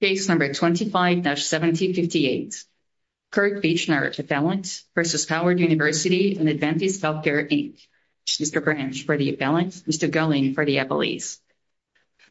Case No. 25-1758, Kirk Beachner Appellant v. Howard University and Adventist Healthcare, Inc. Mr. Branch for the appellant, Mr. Gulling for the appellees.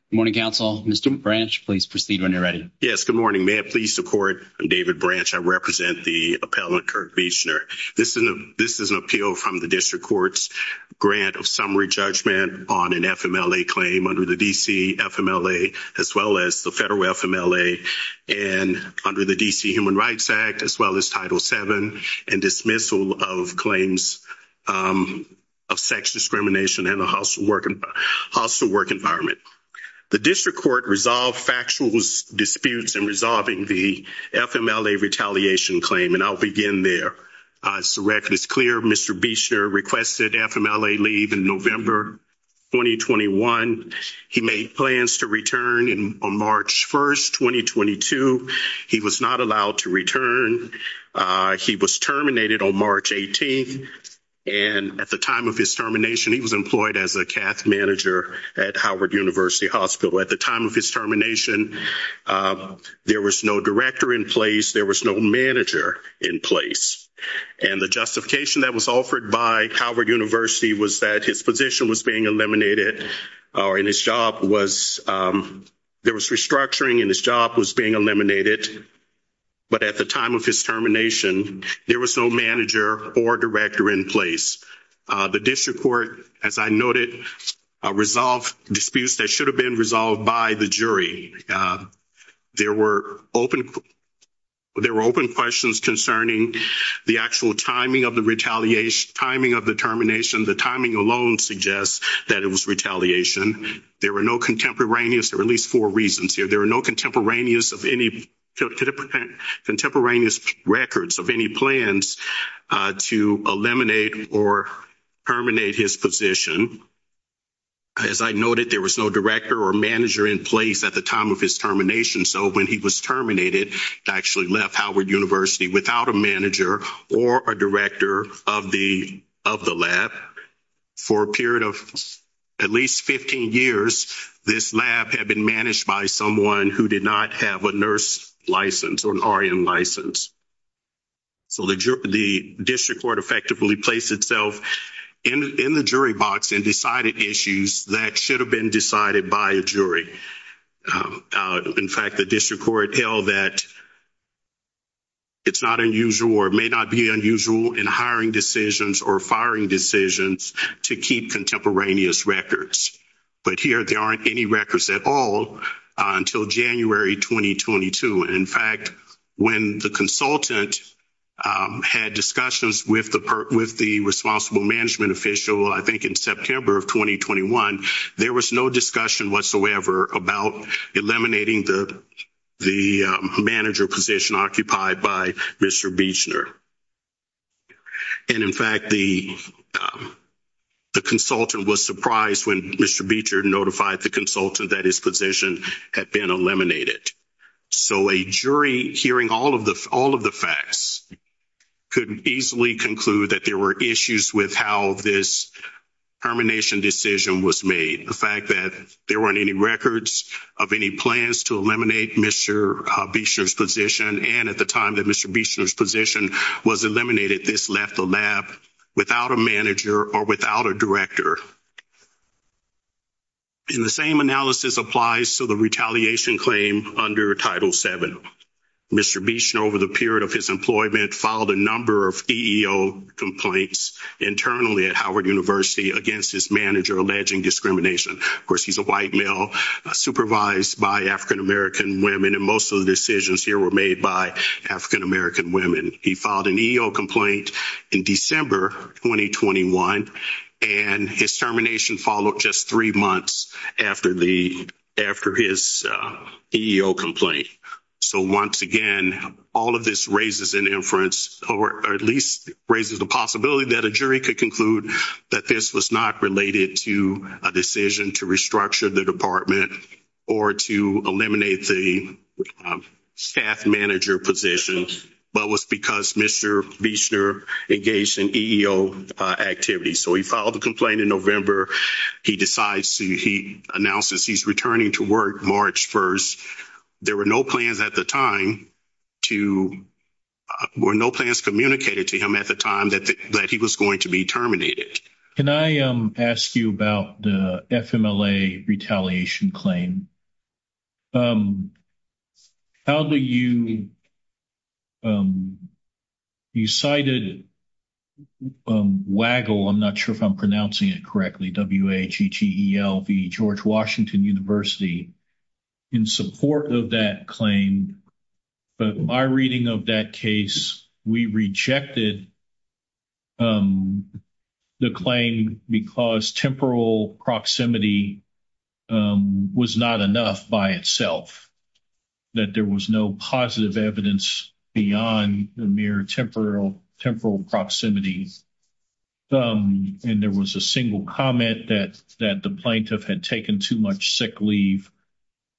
Good morning, counsel. Mr. Branch, please proceed when you're ready. Yes, good morning. May I please support David Branch? I represent the appellant, Kirk Beachner. This is an appeal from the District Court's grant of summary judgment on an FMLA claim under the D.C. FMLA, as well as the federal FMLA, and under the D.C. Human Rights Act, as well as Title VII, and dismissal of claims of sex discrimination in a hostile work environment. The District Court resolved factual disputes in resolving the FMLA retaliation claim, and I'll begin there. As the record is clear, Mr. Beachner requested FMLA leave in November 2021. He made plans to return on March 1st, 2022. He was not allowed to return. He was terminated on March 18th, and at the time of his termination, he was employed as a cath manager at Howard University Hospital. At the time of his termination, there was no director in place, there was no manager in place. And the justification that was offered by Howard University was that his position was being eliminated, and his job was, there was restructuring, and his job was being eliminated. But at the time of his termination, there was no manager or director in place. The District Court, as I noted, resolved disputes that should have been resolved by the jury. There were open questions concerning the actual timing of the termination. The timing alone suggests that it was retaliation. There were no contemporaneous, there were at least four reasons here, there were no contemporaneous records of any plans to eliminate or terminate his position. As I noted, there was no director or manager in place at the time of his termination, so when he was terminated, he actually left Howard University without a manager or a director of the lab. For a period of at least 15 years, this lab had been managed by someone who did not have a nurse license or an RN license. So the District Court effectively placed itself in the jury box and decided issues that should have been decided by a jury. In fact, the District Court held that it's not unusual or may not be unusual in hiring decisions or firing decisions to keep contemporaneous records. But here, there aren't any records at all until January 2022. In fact, when the consultant had discussions with the responsible management official, I think in September of 2021, there was no discussion whatsoever about eliminating the manager position occupied by Mr. Buechner. And in fact, the consultant was surprised when Mr. Buechner notified the consultant that his position had been eliminated. So a jury hearing all of the facts could easily conclude that there were issues with how this termination decision was made. The fact that there weren't any records of any plans to eliminate Mr. Buechner's position and at the time that Mr. Buechner's position was eliminated, this left the lab without a manager or without a director. And the same analysis applies to the retaliation claim under Title VII. Mr. Buechner, over the period of his employment, filed a number of EEO complaints internally at Howard University against his manager alleging discrimination. Of course, he's a white male supervised by African-American women and most of the decisions here were made by African-American women. He filed an EEO complaint in December 2021 and his termination followed just three months after his EEO complaint. So once again, all of this raises an inference or at least raises the possibility that a jury could conclude that this was not related to a decision to restructure the department or to eliminate the staff manager position but was because Mr. Buechner engaged in EEO activities. So he filed a complaint in November. He decides to, he announces he's returning to work March 1st. There were no plans at the time to, were no plans communicated to him at the time that he was going to be terminated. Can I ask you about the FMLA retaliation claim? How do you, you cited WAGLE, I'm not sure if I'm pronouncing it correctly, W-A-G-T-E-L-V, George Washington University, in support of that claim. But my reading of that case, we rejected the claim because temporal proximity was not enough by itself, that there was no positive evidence beyond the mere temporal proximity. And there was a single comment that the plaintiff had taken too much sick leave,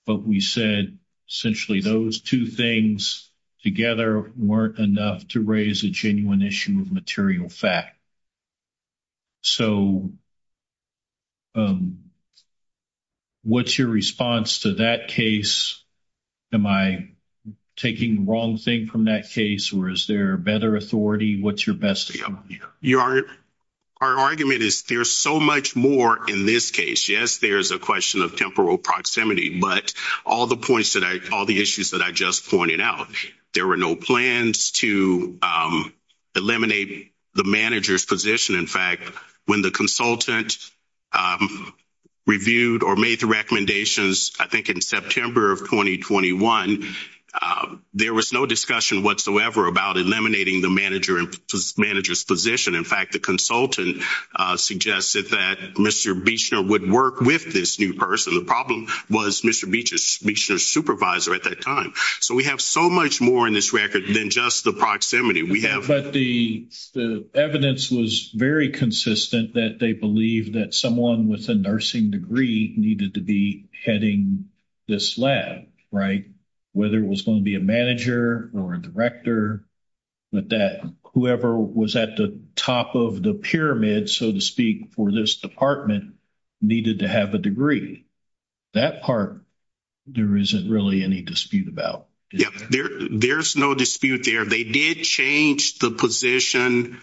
but we said essentially those two things together weren't enough to raise a genuine issue of material fact. So what's your response to that case? Am I taking the wrong thing from that case or is there better authority? What's your best? Our argument is there's so much more in this case. Yes, there's a question of temporal proximity, but all the points that I, all the issues that I just pointed out, there were no plans to eliminate the manager's position. In fact, when the consultant reviewed or made the recommendations, I think in September of 2021, there was no discussion whatsoever about eliminating the manager's position. In fact, the consultant suggested that Mr. Buechner would work with this new person. The problem was Mr. Buechner's supervisor at that time. So we have so much more in this record than just the proximity we have. But the evidence was very consistent that they believe that someone with a nursing degree needed to be heading this lab, right? Whether it was going to be a manager or a director, but that whoever was at the top of the pyramid, so to speak, for this department needed to have a degree. That part, there isn't really any dispute about. Yes, there's no dispute there. They did change the position,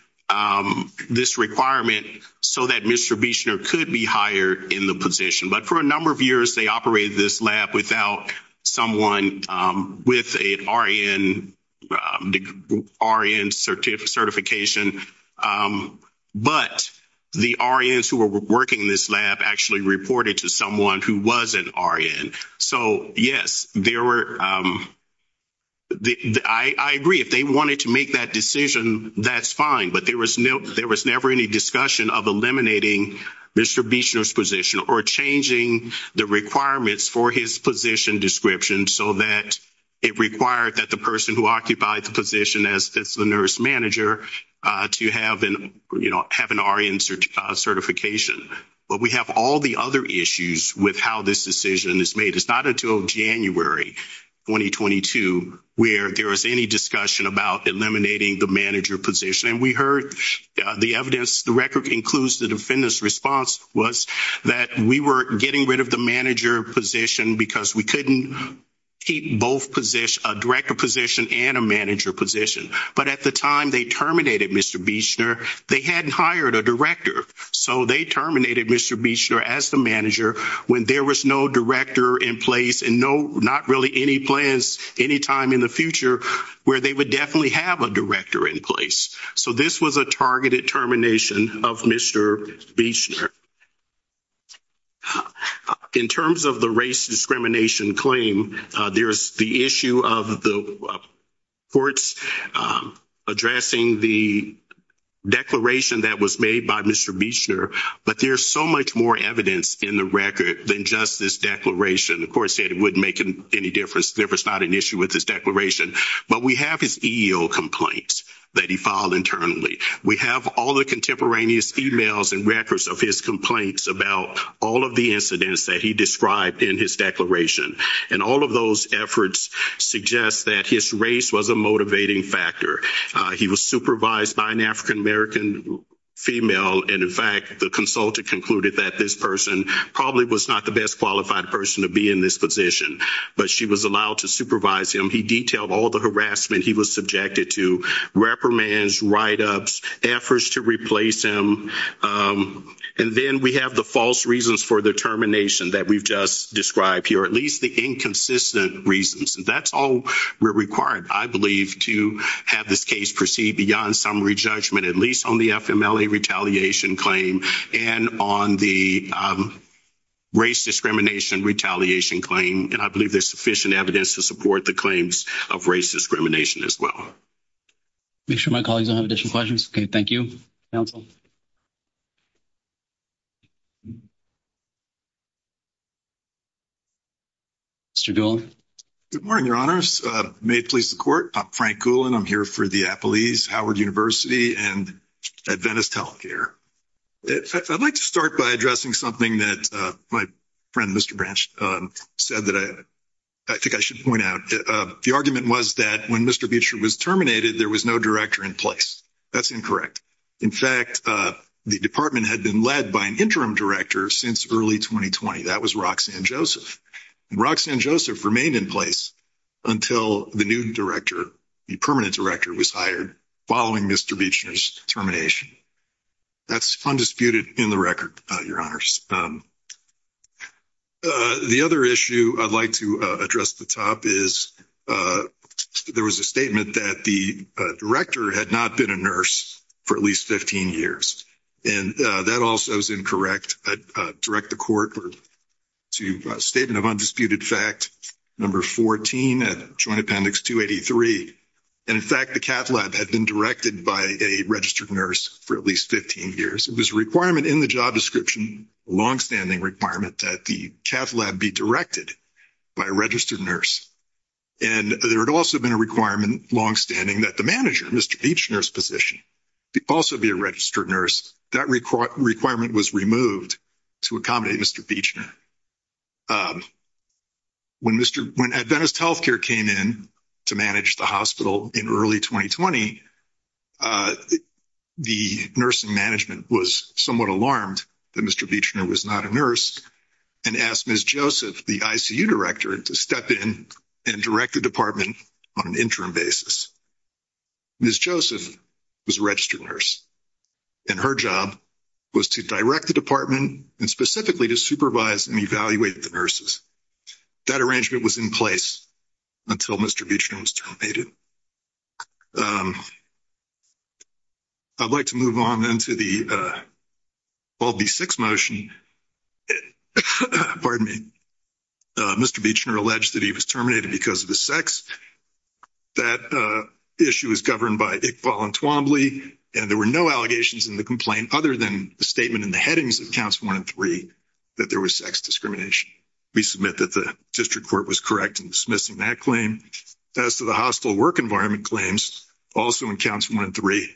this requirement, so that Mr. Buechner could be hired in the position. But for a number of years, they operated this lab without someone with an RN certification. But the RNs who were working this lab actually reported to someone who was an RN. So yes, I agree, if they wanted to make that decision, that's fine. But there was never any discussion of eliminating Mr. Buechner's position or changing the requirements for his position description so that it required that the person who occupied the position as the nurse manager to have an RN certification. But we have all the other issues with how this decision is made. It's not until January 2022 where there was any discussion about eliminating the manager position. And we heard the evidence, the record includes the defendant's response, was that we were getting rid of the manager position because we couldn't keep both positions, a director position and a manager position. But at the time they terminated Mr. Buechner, they hadn't hired a director. So they terminated Mr. Buechner as the manager when there was no director in place and not really any plans any time in the future where they would definitely have a director in place. So this was a targeted termination of Mr. Buechner. In terms of the race discrimination claim, there's the issue of the courts addressing the declaration that was made by Mr. Buechner, but there's so much more evidence in the record than just this declaration. The court said it wouldn't make any difference, there was not an issue with this declaration. But we have his EEO complaints that he filed internally. We have all the contemporaneous emails and records of his complaints about all of the incidents that he described in his declaration. And all of those efforts suggest that his race was a motivating factor. He was supervised by an African-American female, and in fact the consultant concluded that this person probably was not the best qualified person to be in this position. But she was allowed to supervise him, he detailed all the harassment he was subjected to, reprimands, write-ups, efforts to replace him. And then we have the false reasons for the termination that we've just described here, at least the inconsistent reasons. That's all we're required, I believe, to have this case proceed beyond summary judgment, at least on the FMLA retaliation claim, and on the race discrimination retaliation claim. And I believe there's sufficient evidence to support the claims of race discrimination as well. Make sure my colleagues don't have additional questions. Okay, thank you. Counsel. Mr. Doolin. Good morning, Your Honors. May it please the Court, I'm Frank Doolin, I'm here for the Appelese Howard University and at Venice Telecare. I'd like to start by addressing something that my friend, Mr. Branch, said that I think I should point out. The argument was that when Mr. Beecher was terminated, there was no director in place. That's incorrect. In fact, the department had been led by an interim director since early 2020. That was Roxanne Joseph. And Roxanne Joseph remained in place until the new director, the permanent director, was hired following Mr. Beecher's termination. That's undisputed in the record, Your Honors. The other issue I'd like to address at the top is there was a statement that the director had not been a nurse for at least 15 years. And that also is incorrect. I'd direct the Court to a statement of undisputed fact, number 14, Joint Appendix 283. And in fact, the cath lab had been directed by a registered nurse for at least 15 years. It was a requirement in the job description, a longstanding requirement that the cath lab be directed by a registered nurse. And there had also been a requirement, longstanding, that the manager, Mr. Beechner's position, also be a registered nurse. That requirement was removed to accommodate Mr. Beechner. When Adventist Healthcare came in to manage the hospital in early 2020, the nursing management was somewhat alarmed that Mr. Beechner was not a nurse and asked Ms. Joseph, the ICU director, to step in and direct the department on an interim basis. Ms. Joseph was a registered nurse and her job was to direct the department and specifically to supervise and evaluate the nurses. That arrangement was in place until Mr. Beechner was terminated. I'd like to move on then to the, well, the sixth motion. Pardon me. Mr. Beechner alleged that he was terminated because of his sex. That issue is governed by Iqbal and Twombly, and there were no allegations in the complaint other than the statement in the headings of Council 1 and 3 that there was sex discrimination. We submit that the district court was correct in dismissing that claim. As to the hostile work environment claims, also in Council 1 and 3,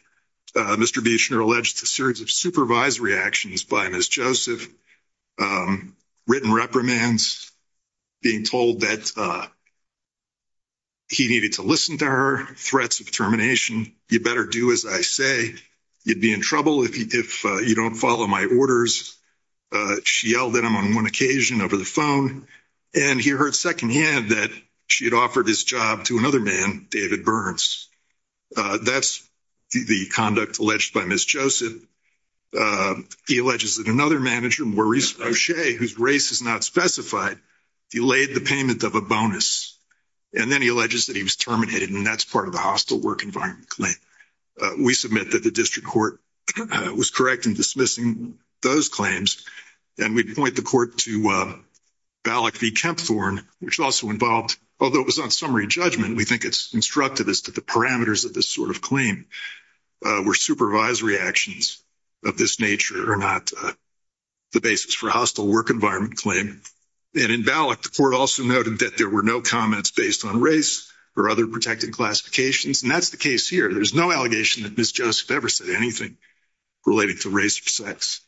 Mr. Beechner alleged a series of supervised reactions by Ms. Joseph, written reprimands, being told that he needed to listen to her, threats of termination, you better do as I say, you'd be in trouble if you don't follow my orders. She yelled at him on one occasion over the phone and he heard secondhand that she had offered his job to another man, David Burns. That's the conduct alleged by Ms. Joseph. He alleges that another manager, Maurice O'Shea, whose race is not specified, delayed the payment of a bonus. And then he alleges that he was terminated and that's part of the hostile work environment claim. We submit that the district court was correct in dismissing those claims. And we point the court to Ballack v. Kempthorne, which also involved, although it was on summary judgment, we think it's instructive as to the parameters of this sort of claim, where supervised reactions of this nature are not the basis for hostile work environment claim. And in Ballack, the court also noted that there were no comments based on race or other protected classifications. And that's the case here. There's no allegation that Ms. Joseph ever said anything relating to race or sex.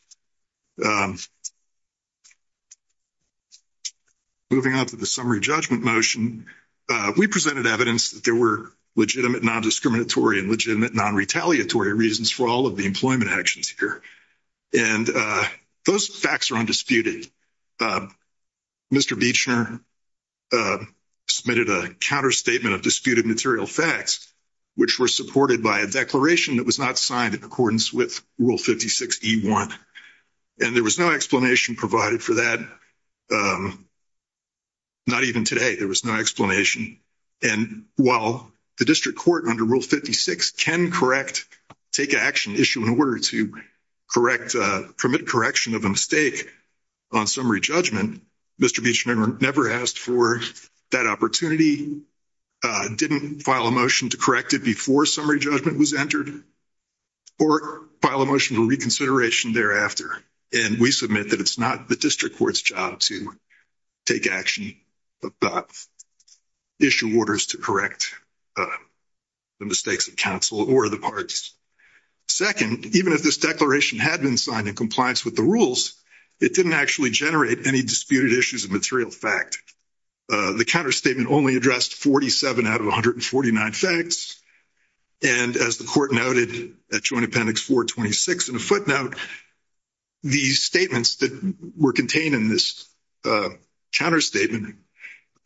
Moving on to the summary judgment motion, we presented evidence that there were legitimate non-discriminatory and legitimate non-retaliatory reasons for all of the employment actions here. And those facts are undisputed. Mr. Buechner submitted a counter statement of disputed material facts, which were supported by a declaration that was not signed in accordance with Rule 56E1. And there was no explanation provided for that. Not even today, there was no explanation. And while the district court, under Rule 56, can correct, take action, issue an order to permit correction of a mistake on summary judgment, Mr. Buechner never asked for that opportunity, didn't file a motion to correct it before summary judgment was entered, or file a motion for reconsideration thereafter. And we submit that it's not the district court's job to take action about issue orders to correct the mistakes of counsel or the parties. Second, even if this declaration had been signed in compliance with the rules, it didn't actually generate any disputed issues of material fact. The counter statement only addressed 47 out of 149 facts. And as the court noted at Joint Appendix 426 in a footnote, these statements that were contained in this counter statement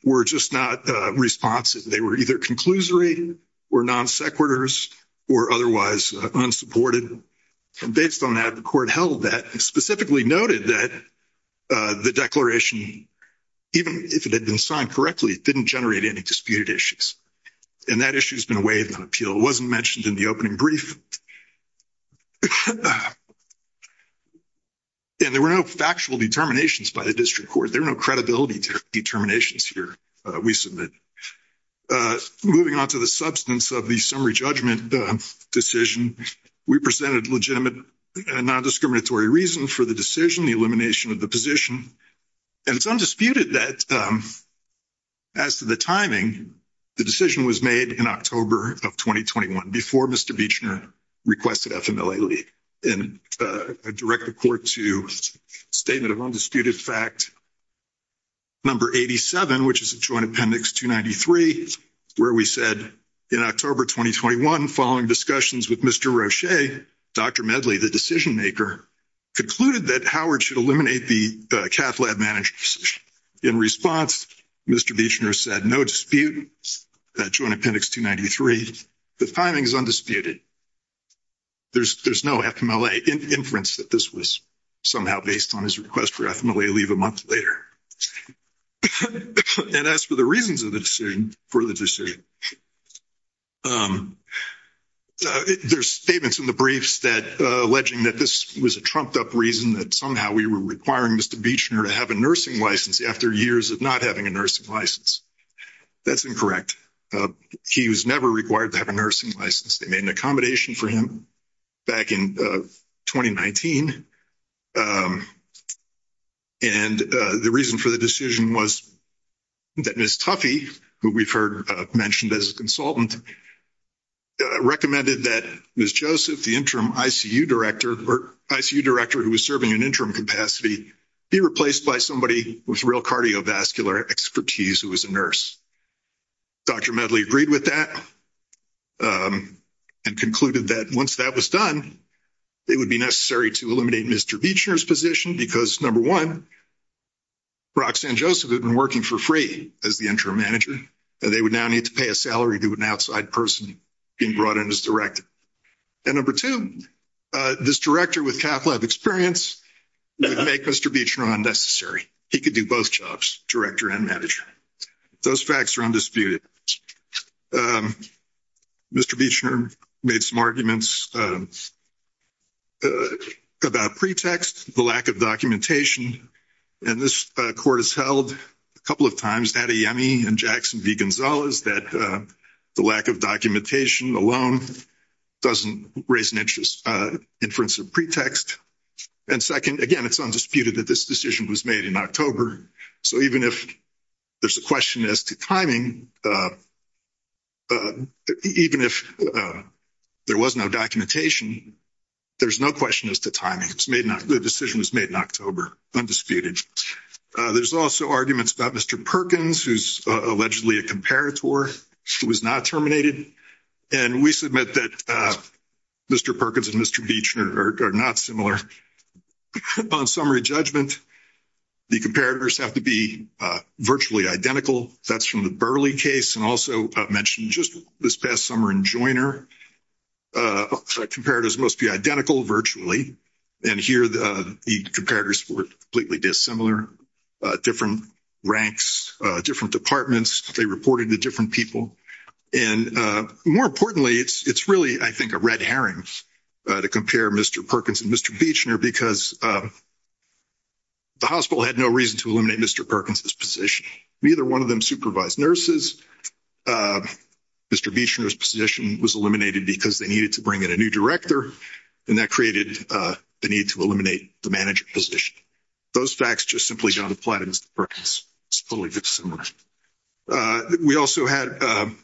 were just not responsive. They were either conclusory or non-sequiturs or otherwise unsupported. Based on that, the court held that, specifically noted that the declaration, even if it had been signed correctly, didn't generate any disputed issues. And that issue's been waived on appeal. It wasn't mentioned in the opening brief. And there were no factual determinations by the district court. There were no credibility determinations here, we submit. Moving on to the substance of the summary judgment decision, we presented legitimate and non-discriminatory reasons for the decision, the elimination of the position. And it's undisputed that, as to the timing, the decision was made in October of 2021, before Mr. Buechner requested FMLA leave. And I direct the court to statement of undisputed fact, number 87, which is a joint appendix 293, where we said, in October 2021, following discussions with Mr. Roche, Dr. Medley, the decision maker, concluded that Howard should eliminate the cath lab managers. In response, Mr. Buechner said, no dispute, that joint appendix 293. The timing is undisputed. There's no FMLA inference that this was somehow based on his request for FMLA leave a month later. And as for the reasons for the decision, there's statements in the briefs alleging that this was a trumped-up reason that somehow we were requiring Mr. Buechner to have a nursing license after years of not having a nursing license. That's incorrect. He was never required to have a nursing license. They made an accommodation for him back in 2019. And the reason for the decision was that Ms. Tuffy, who we've heard mentioned as a consultant, recommended that Ms. Joseph, the interim ICU director, who was serving an interim capacity, be replaced by somebody with real cardiovascular expertise who was a nurse. Dr. Medley agreed with that. And concluded that once that was done, it would be necessary to eliminate Mr. Buechner's position because, number one, Roxanne Joseph had been working for free as the interim manager. They would now need to pay a salary to an outside person being brought in as director. And number two, this director with cath lab experience would make Mr. Buechner unnecessary. He could do both jobs, director and manager. Those facts are undisputed. Mr. Buechner made some arguments about pretext, the lack of documentation. And this court has held a couple of times, Datta Yemi and Jackson v. Gonzalez, that the lack of documentation alone doesn't raise an inference of pretext. And second, again, it's undisputed that this decision was made in October. So even if there's a question as to timing, even if there was no documentation, there's no question as to timing. The decision was made in October, undisputed. There's also arguments about Mr. Perkins, who's allegedly a comparator, who was not terminated. And we submit that Mr. Perkins and Mr. Buechner are not similar. On summary judgment, the comparators have to be virtually identical. That's from the Burley case, and also mentioned just this past summer in Joyner. Comparators must be identical, virtually. And here, the comparators were completely dissimilar. Different ranks, different departments, they reported to different people. And more importantly, it's really, I think, a red herring to compare Mr. Perkins and Mr. Buechner because the hospital had no reason to eliminate Mr. Perkins' position. Neither one of them supervised nurses. Mr. Buechner's position was eliminated because they needed to bring in a new director, and that created the need to eliminate the manager position. Those facts just simply don't apply to Mr. Perkins. It's totally dissimilar. We also had a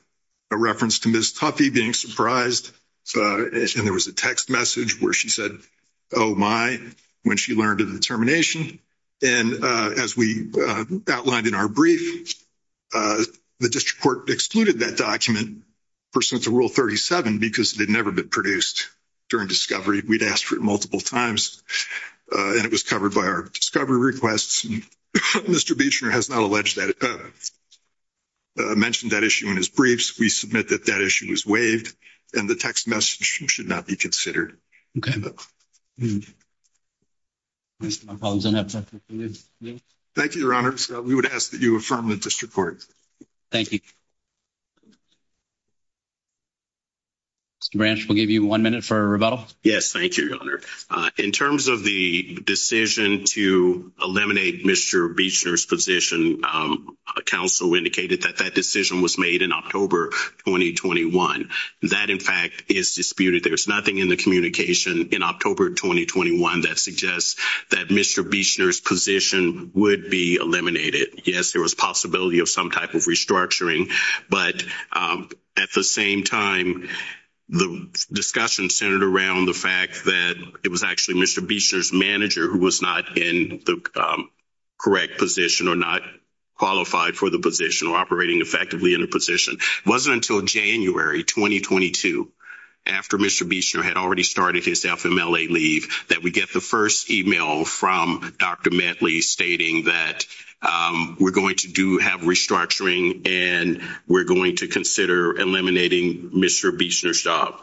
reference to Ms. Tuffy being surprised and there was a text message where she said, oh my, when she learned of the termination. And as we outlined in our brief, the district court excluded that document pursuant to Rule 37 because it had never been produced during discovery. We'd asked for it multiple times, and it was covered by our discovery requests. Mr. Buechner has not mentioned that issue in his briefs. We submit that issue as waived, and the text message should not be considered. Thank you, Your Honor. We would ask that you affirm the district court. Thank you. Mr. Branch, we'll give you one minute for a rebuttal. Yes, thank you, Your Honor. In terms of the decision to eliminate Mr. Buechner's position, counsel indicated that that decision was made in October 2021. That, in fact, is disputed. There's nothing in the communication in October 2021 that suggests that Mr. Buechner's position would be eliminated. Yes, there was possibility of some type of restructuring, but at the same time, the discussion centered around the fact that it was actually Mr. Buechner's manager who was not in the correct position or not qualified for the position or operating effectively in the position. It wasn't until January 2022, after Mr. Buechner had already started his FMLA leave, that we get the first email from Dr. Metley stating that we're going to have restructuring and we're going to consider eliminating Mr. Buechner's job.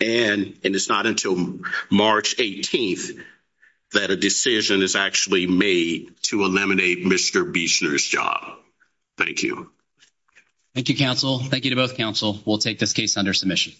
And it's not until March 18th that a decision is actually made to eliminate Mr. Buechner's job. Thank you. Thank you, counsel. Thank you to both counsel. We'll take this case under submission.